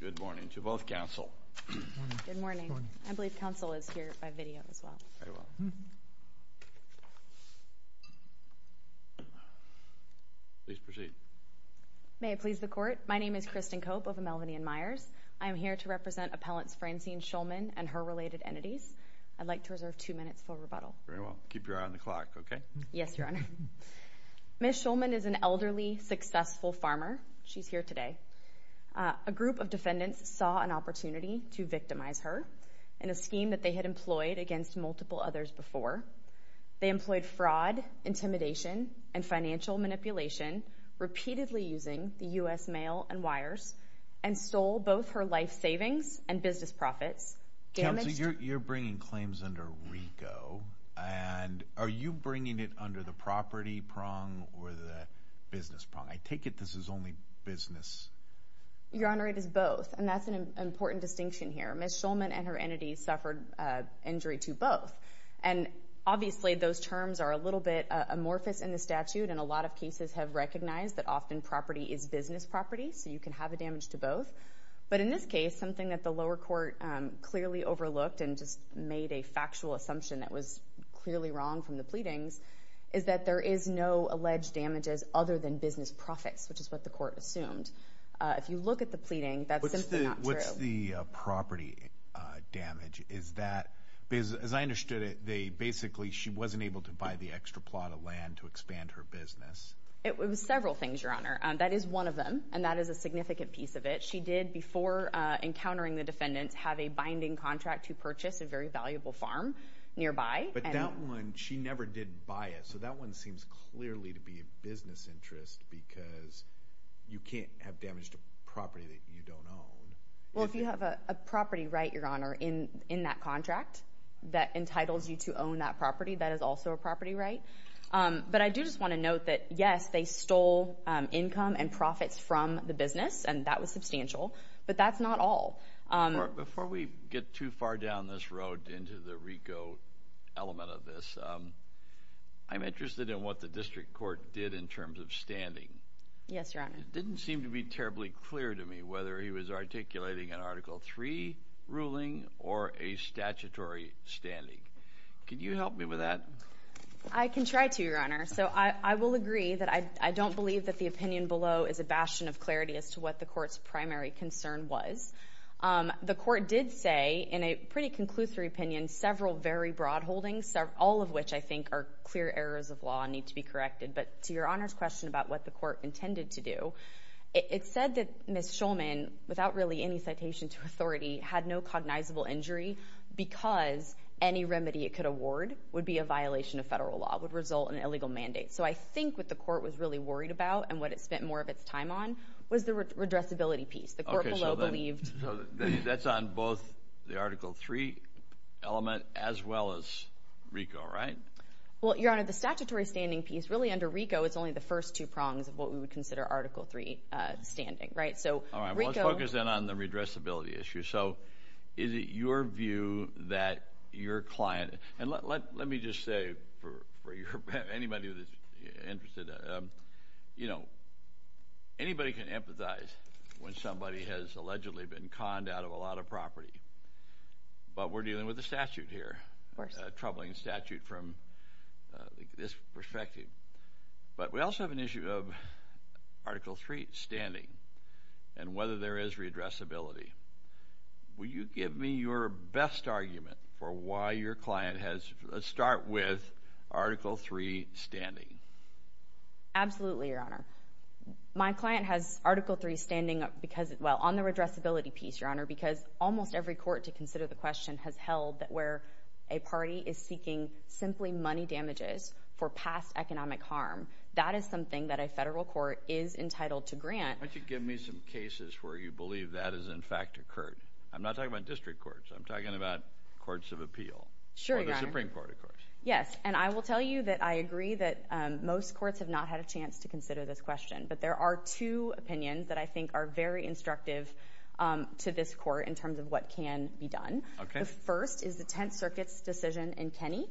Good morning to both counsel. Good morning. I believe counsel is here by video as well. Please proceed. May it please the court. My name is Kristen Cope of Melvinian Myers. I am here to represent Appellants Francine Shulman and her related entities. I'd like to reserve two minutes for rebuttal. Very well. Keep your eye on the clock, okay? Yes, Your Honor. Ms. Shulman is an elderly, successful farmer. She's here today. A group of defendants saw an opportunity to victimize her in a scheme that they had employed against multiple others before. They employed fraud, intimidation, and financial manipulation, repeatedly using the U.S. mail and wires, and stole both her life savings and business profits. Counsel, you're bringing claims under RICO, and are you bringing it under the property prong or the business prong? I take it this is only business. Your Honor, it is both, and that's an important distinction here. Ms. Shulman and her entity suffered injury to both, and obviously those terms are a little bit amorphous in the statute, and a lot of cases have recognized that often property is business property, so you can have a damage to both. But in this case, something that the lower court clearly overlooked, and just made a factual assumption that was clearly wrong from the pleadings, is that there is no alleged damages other than business profits, which is what the court assumed. If you look at the pleading, that's simply not true. What's the property damage? Because as I understood it, basically she wasn't able to buy the extra plot of land to expand her business. It was several things, Your Honor. That is one of them, and that is a significant piece of it. She did, before encountering the defendants, have a binding contract to purchase a very valuable farm nearby. But that one, she never did buy it, so that one seems clearly to be a business interest because you can't have damage to property that you don't own. Well, if you have a property right, Your Honor, in that contract that entitles you to own that property, that is also a property right. But I do just want to note that, yes, they stole income and profits from the business, and that was substantial, but that's not all. Before we get too far down this road into the RICO element of this, I'm interested in what the district court did in terms of standing. Yes, Your Honor. It didn't seem to be terribly clear to me whether he was articulating an Article III ruling or a statutory standing. Could you help me with that? I can try to, Your Honor. So I will agree that I don't believe that the opinion below is a bastion of clarity as to what the court's primary concern was. The court did say, in a pretty conclusory opinion, several very broad holdings, all of which I think are clear errors of law and need to be corrected. But to Your Honor's question about what the court intended to do, it said that Ms. Schulman, without really any citation to authority, had no cognizable injury because any remedy it could award would be a violation of federal law, would result in an illegal mandate. So I think what the court was really worried about and what it spent more of its time on was the redressability piece. The court below believed. So that's on both the Article III element as well as RICO, right? Well, Your Honor, the statutory standing piece, really under RICO, is only the first two prongs of what we would consider Article III standing, right? All right. Well, let's focus then on the redressability issue. So is it your view that your client, and let me just say for anybody that's interested, you know, anybody can empathize when somebody has allegedly been conned out of a lot of property. But we're dealing with a statute here, a troubling statute from this perspective. But we also have an issue of Article III standing and whether there is redressability. Will you give me your best argument for why your client has, let's start with, Article III standing? Absolutely, Your Honor. My client has Article III standing because, well, on the redressability piece, Your Honor, because almost every court, to consider the question, has held that where a party is seeking simply money damages for past economic harm, that is something that a federal court is entitled to grant. Why don't you give me some cases where you believe that has, in fact, occurred? I'm not talking about district courts. I'm talking about courts of appeal. Sure, Your Honor. Or the Supreme Court, of course. Yes, and I will tell you that I agree that most courts have not had a chance to consider this question. But there are two opinions that I think are very instructive to this court in terms of what can be done. Okay. The first is the Tenth Circuit's decision in Kenney.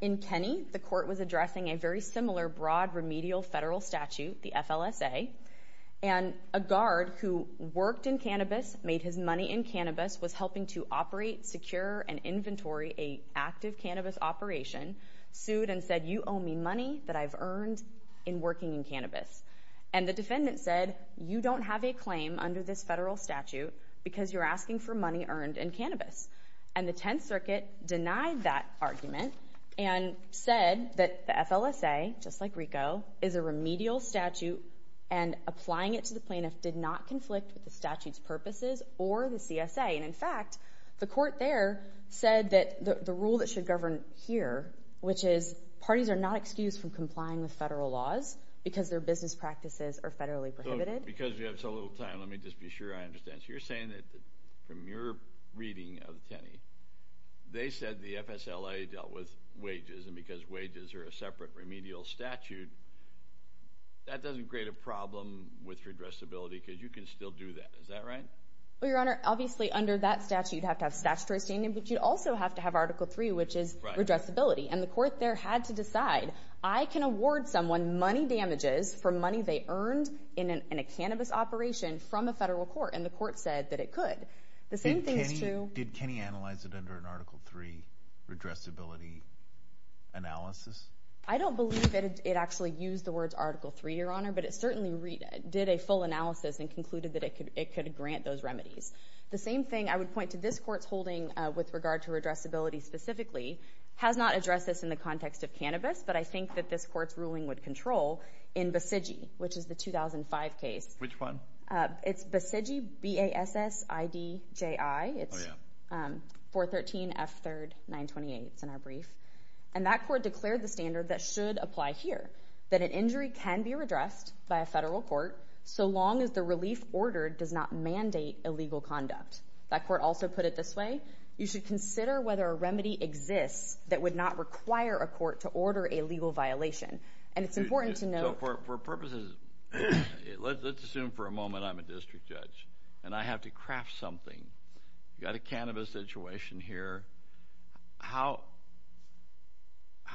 In Kenney, the court was addressing a very similar broad remedial federal statute, the FLSA, and a guard who worked in cannabis, made his money in cannabis, was helping to operate, secure, and inventory an active cannabis operation, sued and said, you owe me money that I've earned in working in cannabis. And the defendant said, you don't have a claim under this federal statute because you're asking for money earned in cannabis. And the Tenth Circuit denied that argument and said that the FLSA, just like RICO, is a remedial statute and applying it to the plaintiff did not conflict with the statute's purposes or the CSA. And, in fact, the court there said that the rule that should govern here, which is parties are not excused from complying with federal laws because their business practices are federally prohibited. Because we have so little time, let me just be sure I understand. So you're saying that from your reading of Kenney, they said the FSLA dealt with wages and because wages are a separate remedial statute, that doesn't create a problem with redressability because you can still do that. Is that right? Well, Your Honor, obviously under that statute you'd have to have statutory standing, but you'd also have to have Article III, which is redressability. And the court there had to decide, I can award someone money damages for money they earned in a cannabis operation from a federal court, and the court said that it could. Did Kenney analyze it under an Article III redressability analysis? I don't believe it actually used the words Article III, Your Honor, but it certainly did a full analysis and concluded that it could grant those remedies. The same thing I would point to this court's holding with regard to redressability specifically has not addressed this in the context of cannabis, but I think that this court's ruling would control in Basigi, which is the 2005 case. Which one? It's Basigi, B-A-S-S-I-D-J-I. Oh, yeah. It's 413 F3rd 928. It's in our brief. And that court declared the standard that should apply here, that an injury can be redressed by a federal court so long as the relief ordered does not mandate illegal conduct. That court also put it this way. You should consider whether a remedy exists that would not require a court to order a legal violation. And it's important to note— So for purposes—let's assume for a moment I'm a district judge, and I have to craft something. You've got a cannabis situation here. How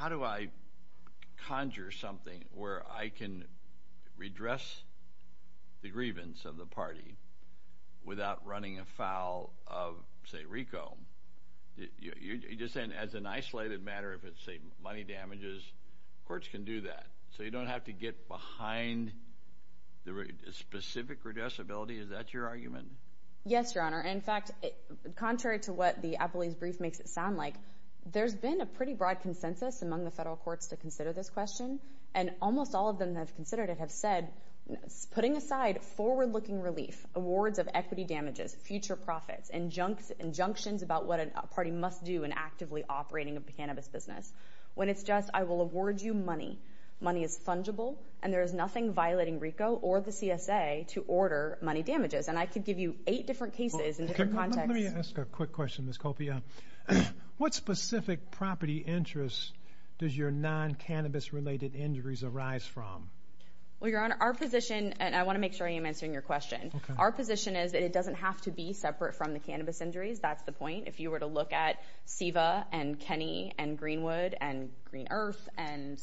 do I conjure something where I can redress the grievance of the party without running afoul of, say, RICO? You're just saying as an isolated matter, if it's, say, money damages, courts can do that. So you don't have to get behind the specific redressability? Is that your argument? Yes, Your Honor. And, in fact, contrary to what the Applebee's brief makes it sound like, there's been a pretty broad consensus among the federal courts to consider this question. And almost all of them that have considered it have said, putting aside forward-looking relief, awards of equity damages, future profits, injunctions about what a party must do in actively operating a cannabis business, when it's just, I will award you money, money is fungible, and there is nothing violating RICO or the CSA to order money damages. And I could give you eight different cases in different contexts. Let me ask a quick question, Ms. Copia. What specific property interests does your non-cannabis-related injuries arise from? Well, Your Honor, our position, and I want to make sure I am answering your question, our position is that it doesn't have to be separate from the cannabis injuries. That's the point. If you were to look at SEVA and Kenny and Greenwood and Green Earth and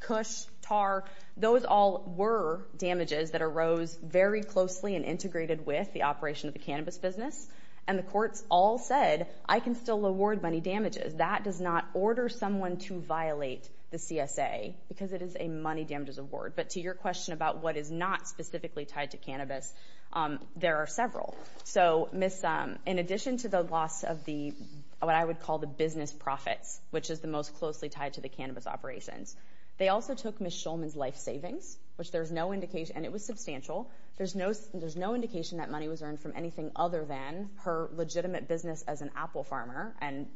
Cush, Tarr, those all were damages that arose very closely and integrated with the operation of the cannabis business. And the courts all said, I can still award money damages. That does not order someone to violate the CSA because it is a money damages award. But to your question about what is not specifically tied to cannabis, there are several. So, Ms., in addition to the loss of what I would call the business profits, which is the most closely tied to the cannabis operations, they also took Ms. Shulman's life savings, which there's no indication, and it was substantial. There's no indication that money was earned from anything other than her legitimate business as an apple farmer and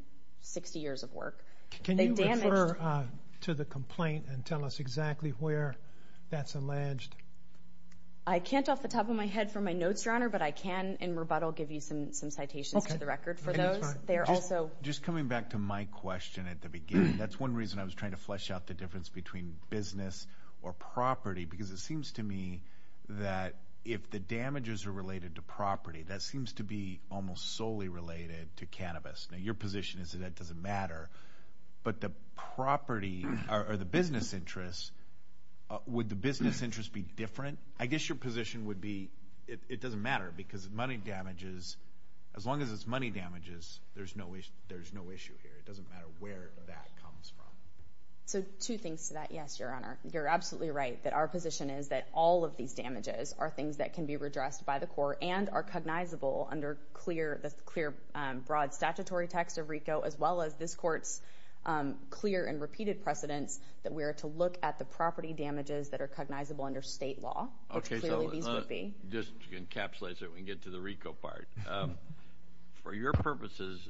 60 years of work. Can you refer to the complaint and tell us exactly where that's alleged? I can't off the top of my head from my notes, Your Honor, but I can in rebuttal give you some citations to the record for those. That's one reason I was trying to flesh out the difference between business or property, because it seems to me that if the damages are related to property, that seems to be almost solely related to cannabis. Now, your position is that that doesn't matter. But the property or the business interests, would the business interests be different? I guess your position would be it doesn't matter because money damages, as long as it's money damages, there's no issue here. It doesn't matter where that comes from. So two things to that, yes, Your Honor. You're absolutely right that our position is that all of these damages are things that can be redressed by the court and are cognizable under the clear broad statutory text of RICO as well as this court's clear and repeated precedents that we are to look at the property damages that are cognizable under state law. Okay, so just to encapsulate so we can get to the RICO part. For your purposes,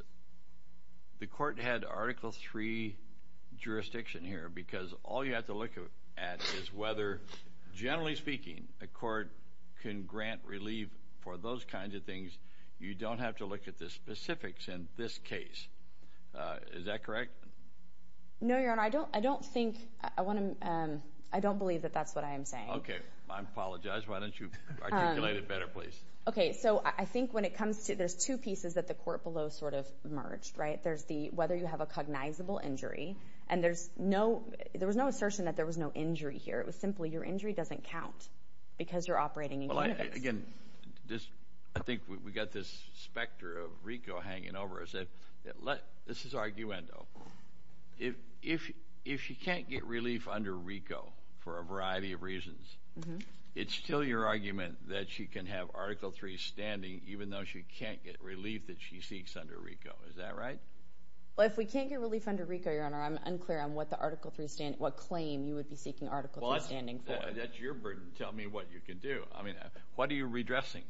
the court had Article III jurisdiction here because all you have to look at is whether, generally speaking, a court can grant relief for those kinds of things. You don't have to look at the specifics in this case. Is that correct? No, Your Honor. I don't believe that that's what I am saying. I apologize. Why don't you articulate it better, please? Okay, so I think when it comes to – there's two pieces that the court below sort of merged, right? There's the whether you have a cognizable injury, and there's no – there was no assertion that there was no injury here. It was simply your injury doesn't count because you're operating in CUNAVIX. Well, again, I think we've got this specter of RICO hanging over us. This is arguendo. If she can't get relief under RICO for a variety of reasons, it's still your argument that she can have Article III standing even though she can't get relief that she seeks under RICO. Is that right? Well, if we can't get relief under RICO, Your Honor, I'm unclear on what claim you would be seeking Article III standing for. Well, that's your burden. Tell me what you can do. I mean, what are you redressing?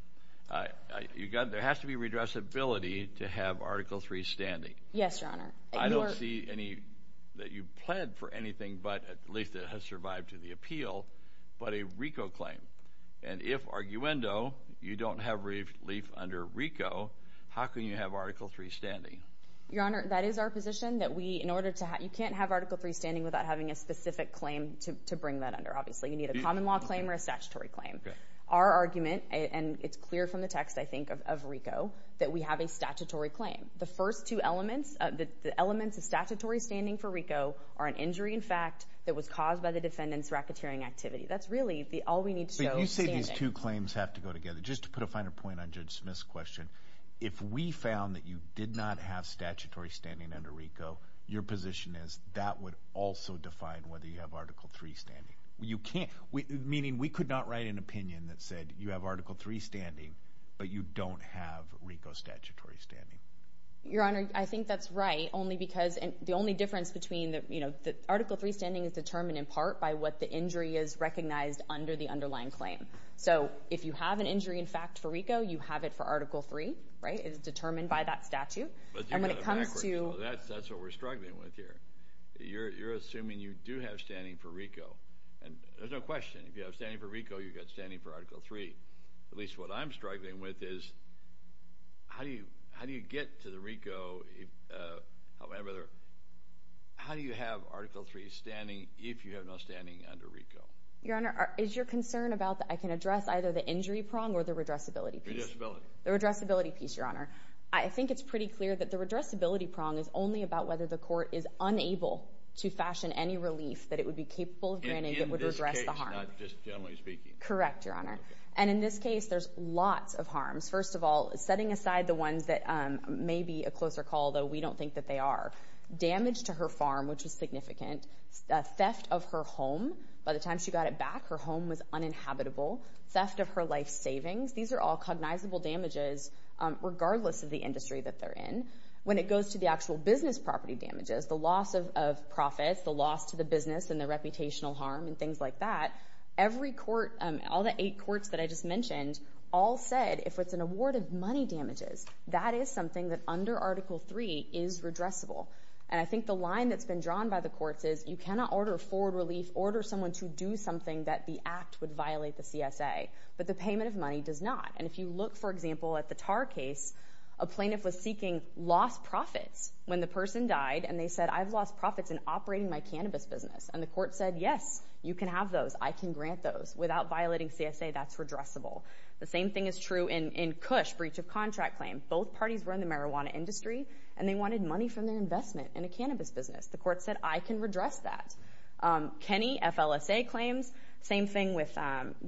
There has to be redressability to have Article III standing. Yes, Your Honor. I don't see any – that you've pled for anything but – at least it has survived to the appeal – but a RICO claim. And if, arguendo, you don't have relief under RICO, how can you have Article III standing? Your Honor, that is our position that we – in order to – you can't have Article III standing without having a specific claim to bring that under, obviously. You need a common law claim or a statutory claim. Our argument – and it's clear from the text, I think, of RICO – that we have a statutory claim. The first two elements – the elements of statutory standing for RICO are an injury in fact that was caused by the defendant's racketeering activity. That's really all we need to show standing. But you say these two claims have to go together. Just to put a finer point on Judge Smith's question, if we found that you did not have statutory standing under RICO, your position is that would also define whether you have Article III standing. You can't – meaning we could not write an opinion that said you have Article III standing, but you don't have RICO statutory standing. Your Honor, I think that's right, only because – and the only difference between – Article III standing is determined in part by what the injury is recognized under the underlying claim. So if you have an injury in fact for RICO, you have it for Article III. It is determined by that statute. And when it comes to – That's what we're struggling with here. You're assuming you do have standing for RICO, and there's no question. If you have standing for RICO, you've got standing for Article III. At least what I'm struggling with is how do you get to the RICO, however – how do you have Article III standing if you have no standing under RICO? Your Honor, is your concern about that I can address either the injury prong or the redressability piece? Redressability. The redressability piece, Your Honor. I think it's pretty clear that the redressability prong is only about whether the court is unable to fashion any relief that it would be capable of granting that would redress the harm. In this case, not just generally speaking. Correct, Your Honor. And in this case, there's lots of harms. First of all, setting aside the ones that may be a closer call, though we don't think that they are. Damage to her farm, which was significant. Theft of her home. By the time she got it back, her home was uninhabitable. Theft of her life savings. These are all cognizable damages regardless of the industry that they're in. When it goes to the actual business property damages, the loss of profits, the loss to the business, and the reputational harm and things like that, every court, all the eight courts that I just mentioned, all said if it's an award of money damages, that is something that under Article III is redressable. And I think the line that's been drawn by the courts is you cannot order forward relief, order someone to do something that the act would violate the CSA. But the payment of money does not. And if you look, for example, at the Tar case, a plaintiff was seeking lost profits when the person died, and they said, I've lost profits in operating my cannabis business. And the court said, yes, you can have those. I can grant those. Without violating CSA, that's redressable. The same thing is true in Cush's breach of contract claim. Both parties were in the marijuana industry, and they wanted money from their investment in a cannabis business. The court said, I can redress that. Kenny, FLSA claims, same thing with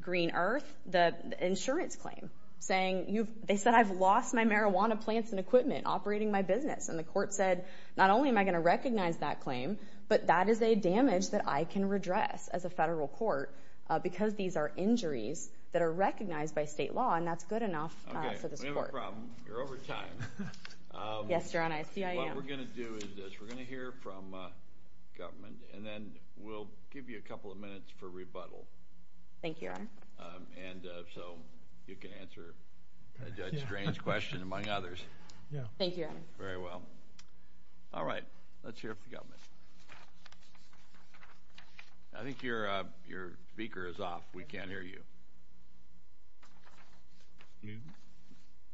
Green Earth, the insurance claim. They said, I've lost my marijuana plants and equipment operating my business. And the court said, not only am I going to recognize that claim, but that is a damage that I can redress as a federal court because these are injuries that are recognized by state law, and that's good enough for this court. Okay, we have a problem. Yes, Your Honor. I see I am. What we're going to do is this. We're going to hear from government, and then we'll give you a couple of minutes for rebuttal. Thank you, Your Honor. And so you can answer a judge's strange question, among others. Thank you, Your Honor. Very well. All right. Let's hear from government. I think your speaker is off. We can't hear you.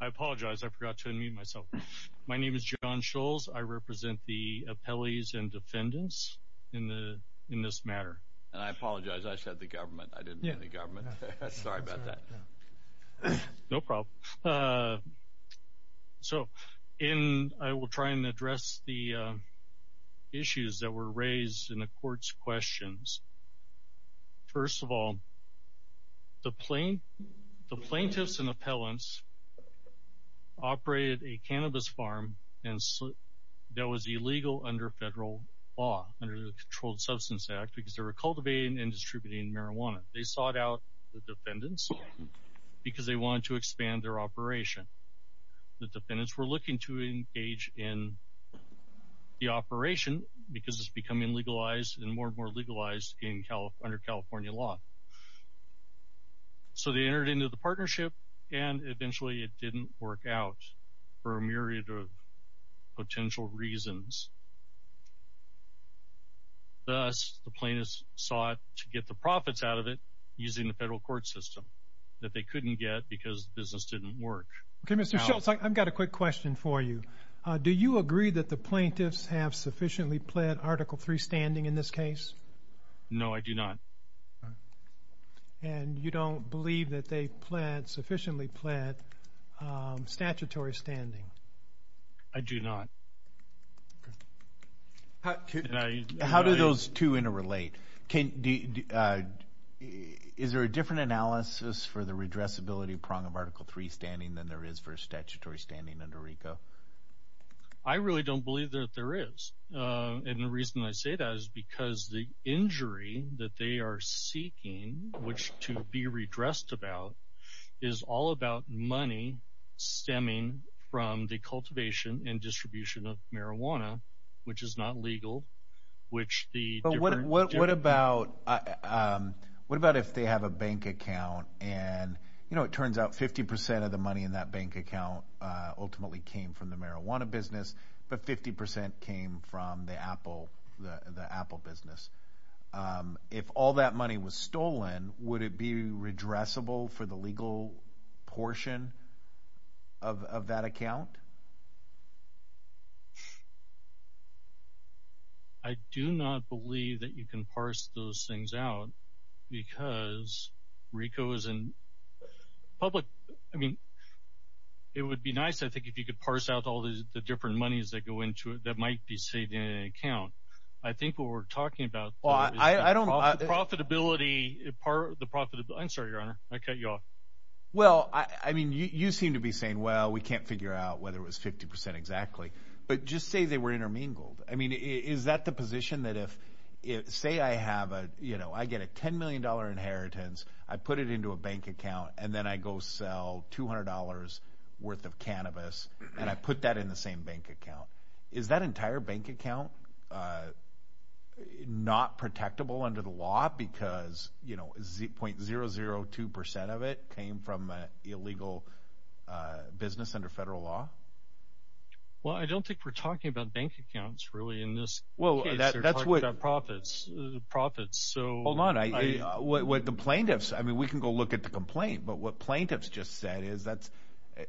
I apologize. I forgot to unmute myself. My name is John Scholz. I represent the appellees and defendants in this matter. And I apologize. I said the government. I didn't mean the government. Sorry about that. No problem. So I will try and address the issues that were raised in the court's questions. First of all, the plaintiffs and appellants operated a cannabis farm that was illegal under federal law, under the Controlled Substance Act, because they were cultivating and distributing marijuana. They sought out the defendants because they wanted to expand their operation. The defendants were looking to engage in the operation because it's becoming legalized and more and more legalized under California law. So they entered into the partnership, and eventually it didn't work out for a myriad of potential reasons. Thus, the plaintiffs sought to get the profits out of it using the federal court system that they couldn't get because the business didn't work. Okay, Mr. Scholz, I've got a quick question for you. Do you agree that the plaintiffs have sufficiently pled Article III standing in this case? No, I do not. And you don't believe that they've sufficiently pled statutory standing? I do not. How do those two interrelate? Is there a different analysis for the redressability prong of Article III standing than there is for statutory standing under RICO? I really don't believe that there is. And the reason I say that is because the injury that they are seeking, which to be redressed about, is all about money stemming from the cultivation and distribution of marijuana, which is not legal. But what about if they have a bank account, and it turns out 50% of the money in that bank account ultimately came from the marijuana business, but 50% came from the apple business. If all that money was stolen, would it be redressable for the legal portion of that account? I do not believe that you can parse those things out because RICO is in public – I mean, it would be nice, I think, if you could parse out all the different monies that go into it that might be saved in an account. I think what we're talking about is the profitability – I'm sorry, Your Honor. I cut you off. Well, I mean, you seem to be saying, well, we can't figure out whether it was 50% exactly. But just say they were intermingled. I mean, is that the position that if, say, I have a – I get a $10 million inheritance, I put it into a bank account, and then I go sell $200 worth of cannabis, and I put that in the same bank account. Is that entire bank account not protectable under the law because 0.002% of it came from illegal business under federal law? Well, I don't think we're talking about bank accounts, really, in this case. Well, that's what – We're talking about profits. Hold on. What the plaintiffs – I mean, we can go look at the complaint. But what plaintiffs just said is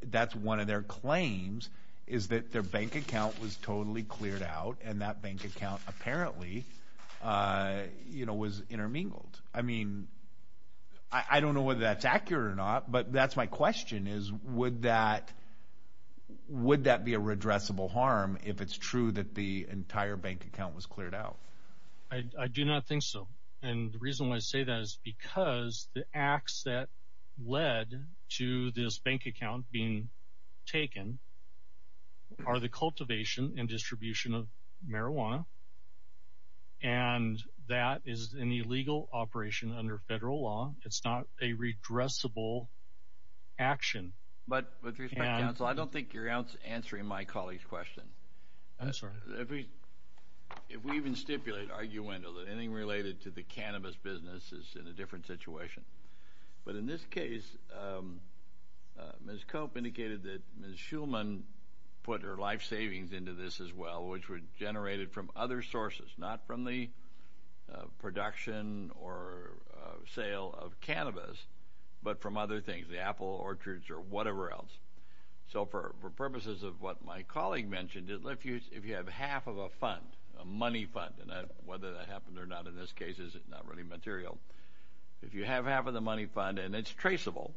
that's one of their claims, is that their bank account was totally cleared out, and that bank account apparently was intermingled. I mean, I don't know whether that's accurate or not, but that's my question, is would that be a redressable harm if it's true that the entire bank account was cleared out? I do not think so. And the reason why I say that is because the acts that led to this bank account being taken are the cultivation and distribution of marijuana, and that is an illegal operation under federal law. It's not a redressable action. But with respect, counsel, I don't think you're answering my colleague's question. I'm sorry. If we even stipulate arguendo that anything related to the cannabis business is in a different situation. But in this case, Ms. Cope indicated that Ms. Shulman put her life savings into this as well, which were generated from other sources, not from the production or sale of cannabis, but from other things, the apple orchards or whatever else. So for purposes of what my colleague mentioned, if you have half of a fund, a money fund, and whether that happened or not in this case is not really material, if you have half of the money fund and it's traceable,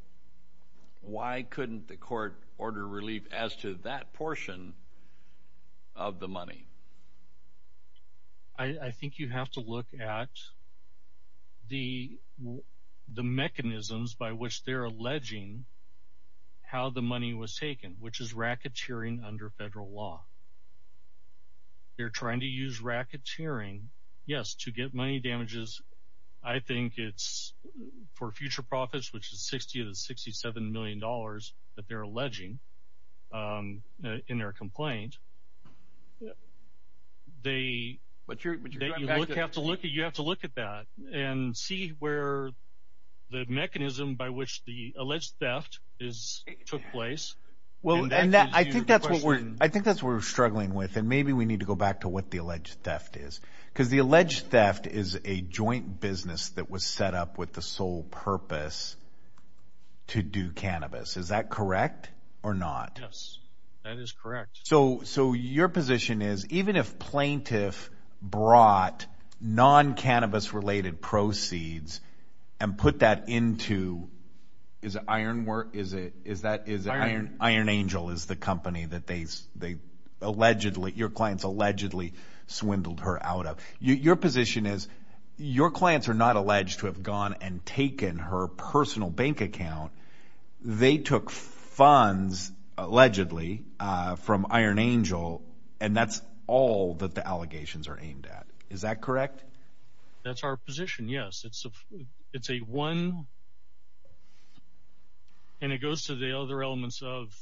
why couldn't the court order relief as to that portion of the money? I think you have to look at the mechanisms by which they're alleging how the money was taken, which is racketeering under federal law. They're trying to use racketeering, yes, to get money damages. I think it's for future profits, which is $60 to $67 million that they're alleging in their complaint. You have to look at that and see where the mechanism by which the alleged theft took place. I think that's what we're struggling with, and maybe we need to go back to what the alleged theft is. Because the alleged theft is a joint business that was set up with the sole purpose to do cannabis. Is that correct or not? Yes, that is correct. So your position is even if plaintiff brought non-cannabis-related proceeds and put that into, is it Iron Angel is the company that your clients allegedly swindled her out of? Your position is your clients are not alleged to have gone and taken her personal bank account. They took funds allegedly from Iron Angel, and that's all that the allegations are aimed at. Is that correct? That's our position, yes. It's a one, and it goes to the other elements of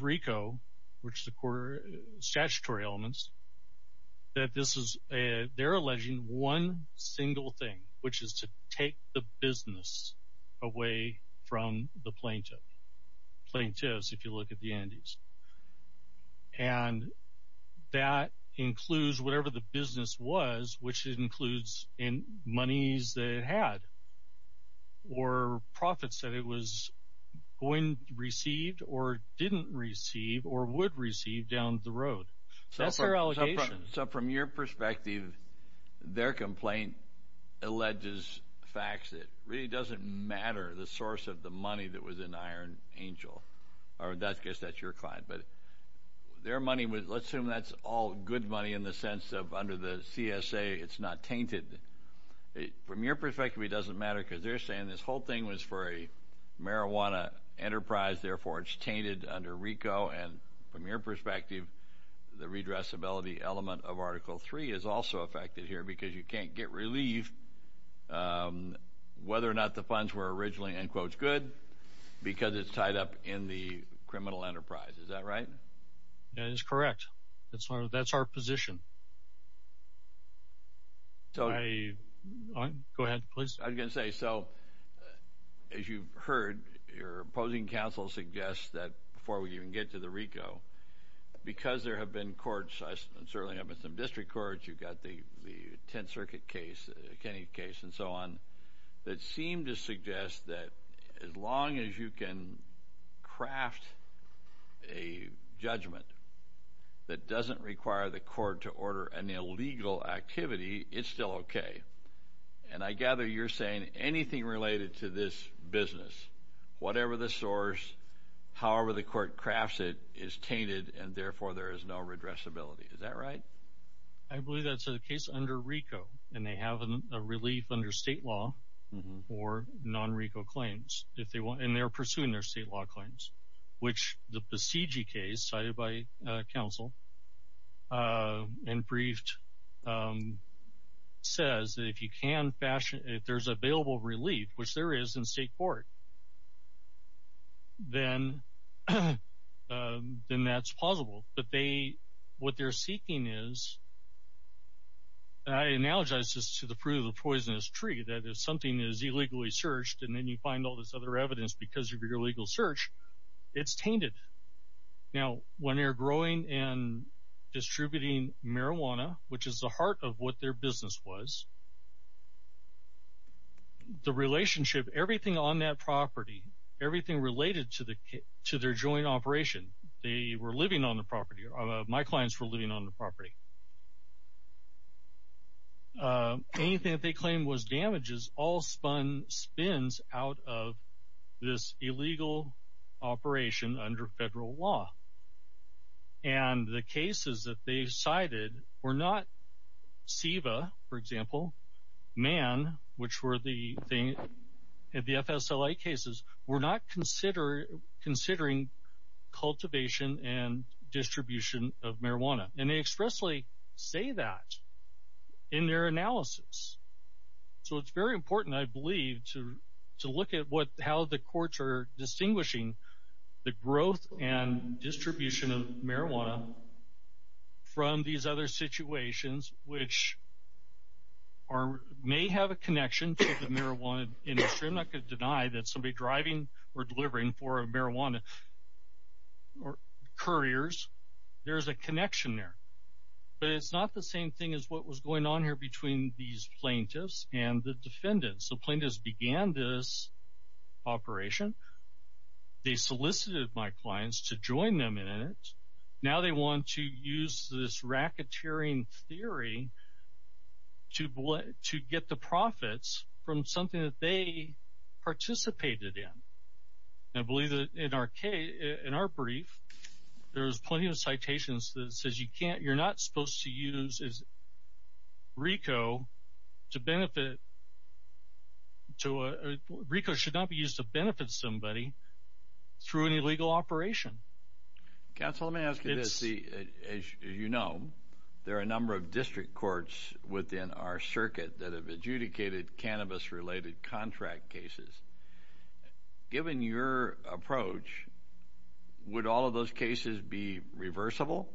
RICO, which is the statutory elements, that they're alleging one single thing, which is to take the business away from the plaintiff, plaintiffs if you look at the entities. And that includes whatever the business was, which includes monies that it had, or profits that it was going to receive or didn't receive or would receive down the road. That's their allegation. So from your perspective, their complaint alleges facts. It really doesn't matter the source of the money that was in Iron Angel, or in that case that's your client. But their money was, let's assume that's all good money in the sense of under the CSA it's not tainted. From your perspective, it doesn't matter because they're saying this whole thing was for a marijuana enterprise, therefore it's tainted under RICO. And from your perspective, the redressability element of Article 3 is also affected here because you can't get relief whether or not the funds were originally, in quotes, good because it's tied up in the criminal enterprise. Is that right? That is correct. That's our position. Go ahead, please. I was going to say, so as you've heard, your opposing counsel suggests that before we even get to the RICO, because there have been courts, and certainly there have been some district courts, you've got the Tenth Circuit case, the Kennedy case, and so on, that seem to suggest that as long as you can craft a judgment that doesn't require the court to order an illegal activity, it's still okay. And I gather you're saying anything related to this business, whatever the source, however the court crafts it, is tainted, and therefore there is no redressability. Is that right? I believe that's the case under RICO, and they have a relief under state law for non-RICO claims, and they're pursuing their state law claims, which the Besiege case cited by counsel and briefed says that if there's available relief, which there is in state court, then that's possible. But what they're seeking is, and I analogize this to the fruit of the poisonous tree, that if something is illegally searched and then you find all this other evidence because of your illegal search, it's tainted. Now, when they're growing and distributing marijuana, which is the heart of what their business was, the relationship, everything on that property, everything related to their joint operation, they were living on the property, or my clients were living on the property, anything that they claim was damages all spins out of this illegal operation under federal law. And the cases that they cited were not SEVA, for example, MAN, which were the FSLA cases, were not considering cultivation and distribution of marijuana. And they expressly say that in their analysis. So it's very important, I believe, to look at how the courts are distinguishing the growth and distribution of marijuana from these other situations, which may have a connection to the marijuana industry. I'm not going to deny that somebody driving or delivering for marijuana couriers, there's a connection there. But it's not the same thing as what was going on here between these plaintiffs and the defendants. The plaintiffs began this operation. They solicited my clients to join them in it. Now they want to use this racketeering theory to get the profits from something that they participated in. I believe that in our brief, there's plenty of citations that says you're not supposed to use RICO to benefit. RICO should not be used to benefit somebody through an illegal operation. Counsel, let me ask you this. As you know, there are a number of district courts within our circuit that have adjudicated cannabis-related contract cases. Given your approach, would all of those cases be reversible?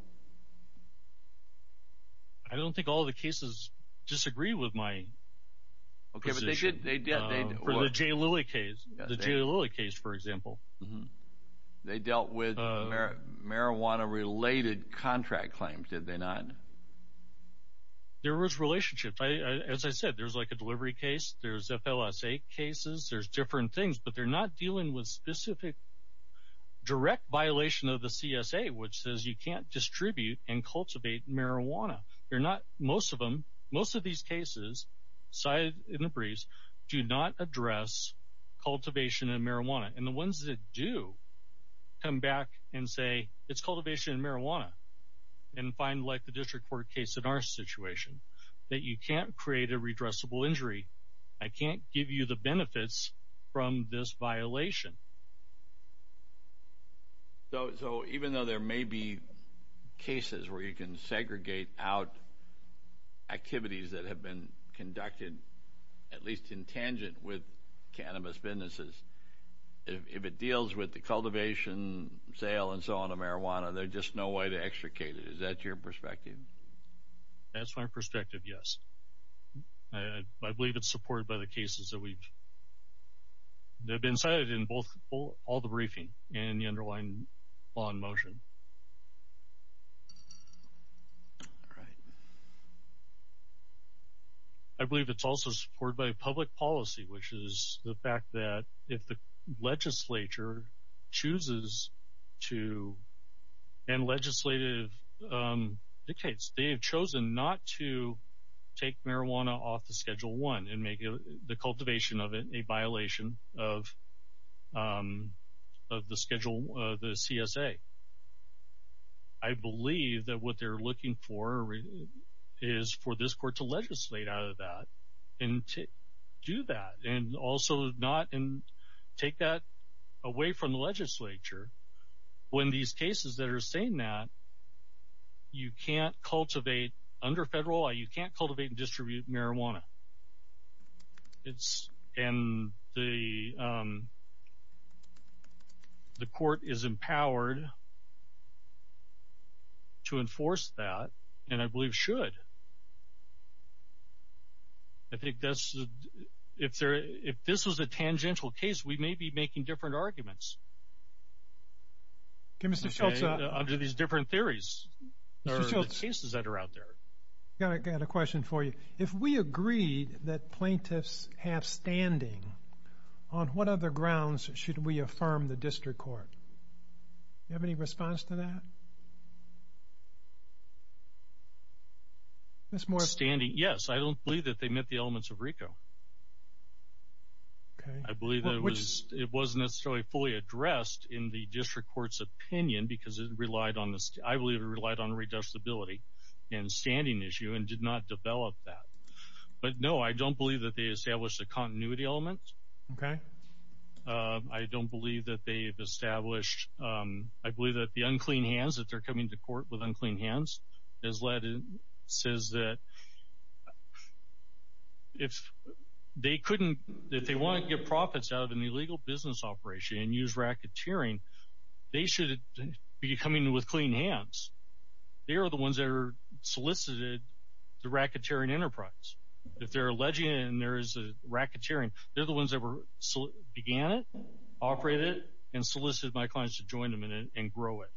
I don't think all of the cases disagree with my position. Okay, but they did. For the Jay Lilly case, for example. They dealt with marijuana-related contract claims, did they not? There was relationship. As I said, there's a delivery case, there's FLSA cases, there's different things. But they're not dealing with specific direct violation of the CSA, which says you can't distribute and cultivate marijuana. Most of these cases cited in the briefs do not address cultivation and marijuana. And the ones that do come back and say it's cultivation and marijuana. And find, like the district court case in our situation, that you can't create a redressable injury. I can't give you the benefits from this violation. So even though there may be cases where you can segregate out activities that have been conducted, at least in tangent with cannabis businesses, if it deals with the cultivation, sale, and so on of marijuana, there's just no way to extricate it. Is that your perspective? That's my perspective, yes. I believe it's supported by the cases that have been cited in all the briefings and the underlying law in motion. All right. I believe it's also supported by public policy, which is the fact that if the legislature chooses to, and legislative dictates, they have chosen not to take marijuana off the Schedule 1 and make the cultivation of it a violation of the schedule, the CSA. I believe that what they're looking for is for this court to legislate out of that and do that. And also not take that away from the legislature. When these cases that are saying that, you can't cultivate under federal law, you can't cultivate and distribute marijuana. And the court is empowered to enforce that, and I believe should. I think if this was a tangential case, we may be making different arguments. Okay, Mr. Schultz. Under these different theories or cases that are out there. I've got a question for you. If we agreed that plaintiffs have standing, on what other grounds should we affirm the district court? Do you have any response to that? Standing? Yes, I don't believe that they met the elements of RICO. I believe it wasn't necessarily fully addressed in the district court's opinion, because I believe it relied on reducibility and standing issue and did not develop that. But no, I don't believe that they established a continuity element. Okay. I don't believe that they've established. I believe that the unclean hands, that they're coming to court with unclean hands, says that if they want to get profits out of an illegal business operation and use racketeering, they should be coming with clean hands. They are the ones that are solicited to racketeering enterprise. If they're alleging there is racketeering, they're the ones that began it, operated it, and solicited my clients to join them in it and grow it.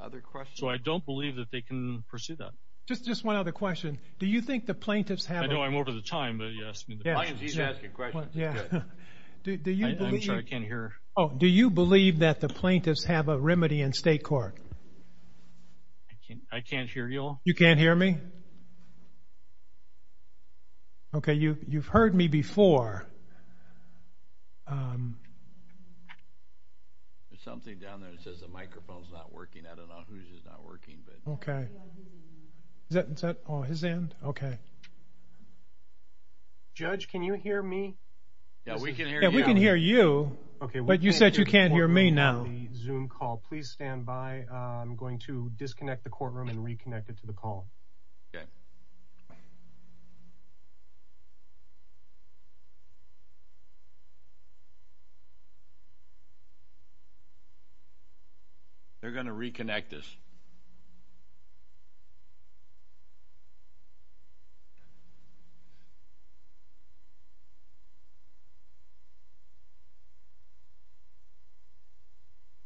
Other questions? So I don't believe that they can pursue that. Just one other question. Do you think the plaintiffs have a remedy in state court? I can't hear you all. You can't hear me? Okay. You've heard me before. There's something down there that says the microphone's not working. I don't know whose is not working. Okay. Is that his end? Okay. Judge, can you hear me? Yeah, we can hear you. Yeah, we can hear you, but you said you can't hear me now. Zoom call. Please stand by. I'm going to disconnect the courtroom and reconnect it to the call. Okay. They're going to reconnect us.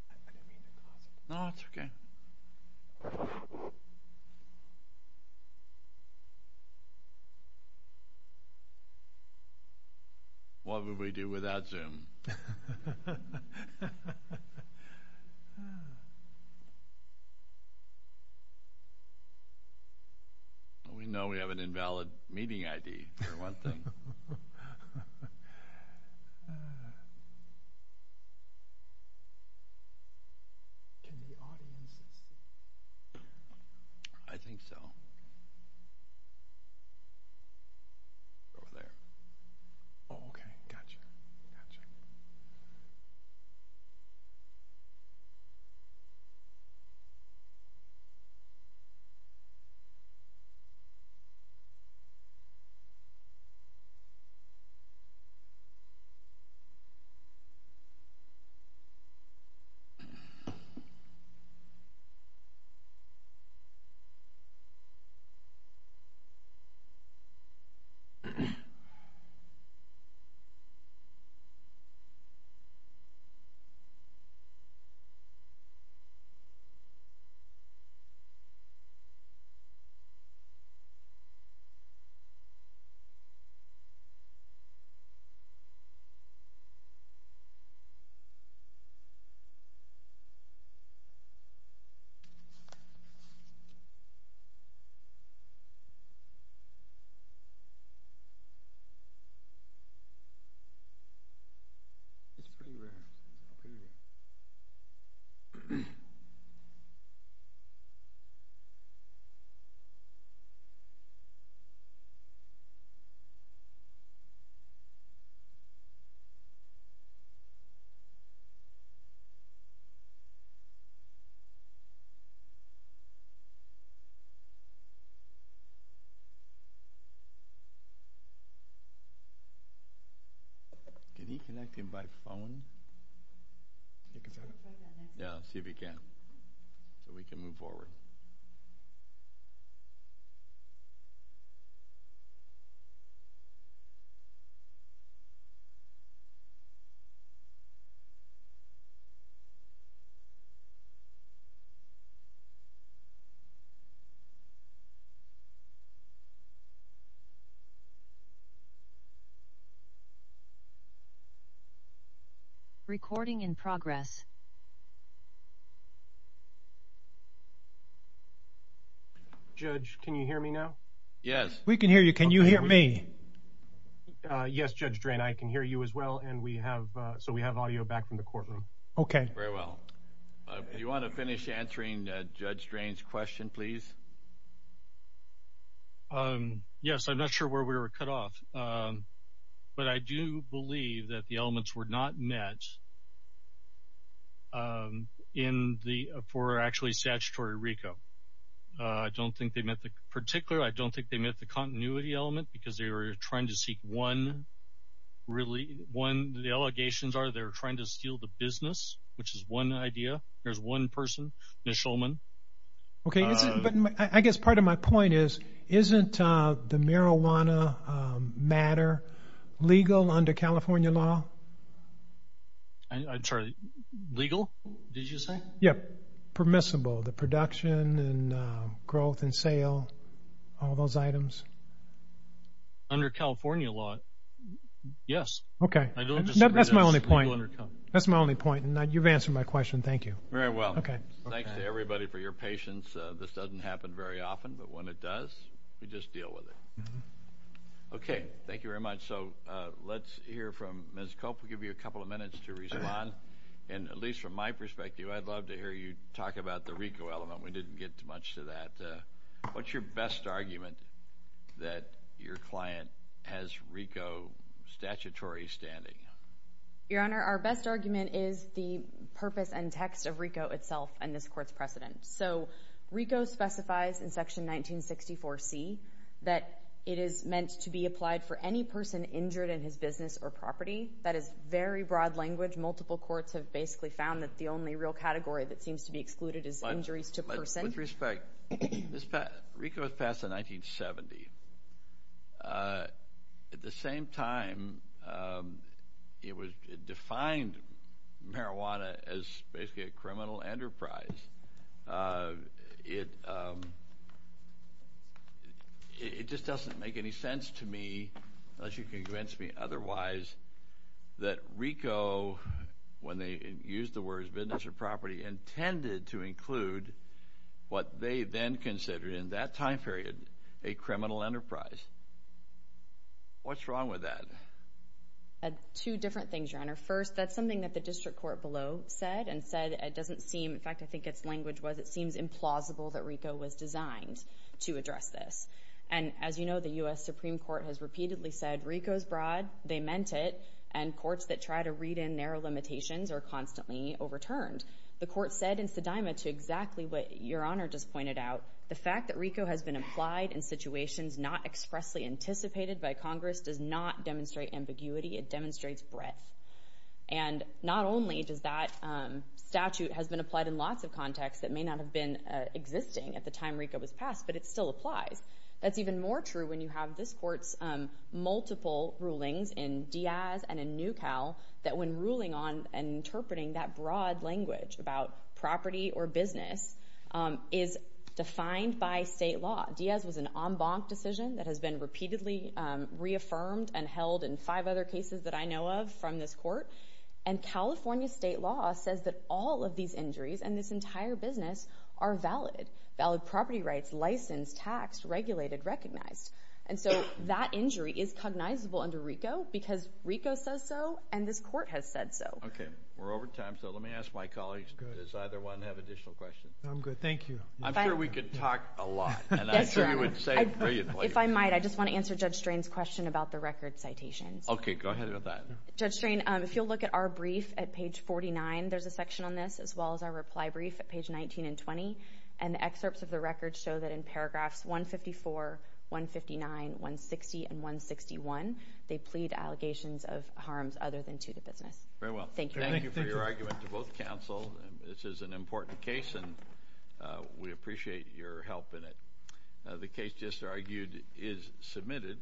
I'm going to read the clause again. No, that's okay. What would we do without Zoom? We know we have an invalid meeting ID for one thing. Can the audience see? I think so. Over there. Oh, okay. Gotcha, gotcha. Okay. Okay. Okay. Yeah, let's see if we can. So we can move forward. Okay. Recording in progress. Judge, can you hear me now? Yes. We can hear you. Can you hear me? Yes, Judge Drain. I can hear you as well. So we have audio back from the courtroom. Okay. Very well. Do you want to finish answering Judge Drain's question, please? Yes. I'm not sure where we were cut off, but I do believe that the elements were not met for actually statutory RICO. I don't think they met the continuity element because they were trying to steal the business, which is one idea. There's one person, Ms. Shulman. Okay. But I guess part of my point is, isn't the marijuana matter legal under California law? I'm sorry. Legal, did you say? Yep, permissible, the production and growth and sale, all those items. Under California law, yes. Okay. That's my only point. That's my only point. You've answered my question. Thank you. Very well. Thanks to everybody for your patience. This doesn't happen very often, but when it does, we just deal with it. Okay. Thank you very much. So let's hear from Ms. Cope. We'll give you a couple of minutes to respond. And at least from my perspective, I'd love to hear you talk about the RICO element. We didn't get much to that. What's your best argument that your client has RICO statutory standing? Your Honor, our best argument is the purpose and text of RICO itself and this Court's precedent. So RICO specifies in Section 1964C that it is meant to be applied for any person injured in his business or property. That is very broad language. Multiple courts have basically found that the only real category that seems to be excluded is injuries to person. With respect, RICO was passed in 1970. At the same time, it defined marijuana as basically a criminal enterprise. It just doesn't make any sense to me, unless you can convince me otherwise, that RICO, when they used the words business or property, intended to include what they then considered in that time period a criminal enterprise. What's wrong with that? Two different things, Your Honor. First, that's something that the district court below said and said it doesn't seem. In fact, I think its language was it seems implausible that RICO was designed to address this. And as you know, the U.S. Supreme Court has repeatedly said RICO is broad. They meant it. And courts that try to read in narrow limitations are constantly overturned. The court said in Sedima, to exactly what Your Honor just pointed out, the fact that RICO has been applied in situations not expressly anticipated by Congress does not demonstrate ambiguity. It demonstrates breadth. And not only does that statute has been applied in lots of contexts that may not have been existing at the time RICO was passed, but it still applies. That's even more true when you have this court's multiple rulings in Diaz and in Nucal that when ruling on and interpreting that broad language about property or business is defined by state law. Diaz was an en banc decision that has been repeatedly reaffirmed and held in five other cases that I know of from this court. And California state law says that all of these injuries and this entire business are valid. Valid property rights, licensed, taxed, regulated, recognized. And so that injury is cognizable under RICO because RICO says so and this court has said so. Okay. We're over time, so let me ask my colleagues. Does either one have additional questions? I'm good. Thank you. I'm sure we could talk a lot. Yes, Your Honor. And I'm sure you would say brilliantly. If I might, I just want to answer Judge Strain's question about the record citations. Okay. Go ahead with that. Judge Strain, if you'll look at our brief at page 49, there's a section on this, as well as our reply brief at page 19 and 20. And excerpts of the record show that in paragraphs 154, 159, 160, and 161, they plead allegations of harms other than to the business. Very well. Thank you. Thank you for your argument to both counsel. This is an important case, and we appreciate your help in it. The case just argued is submitted.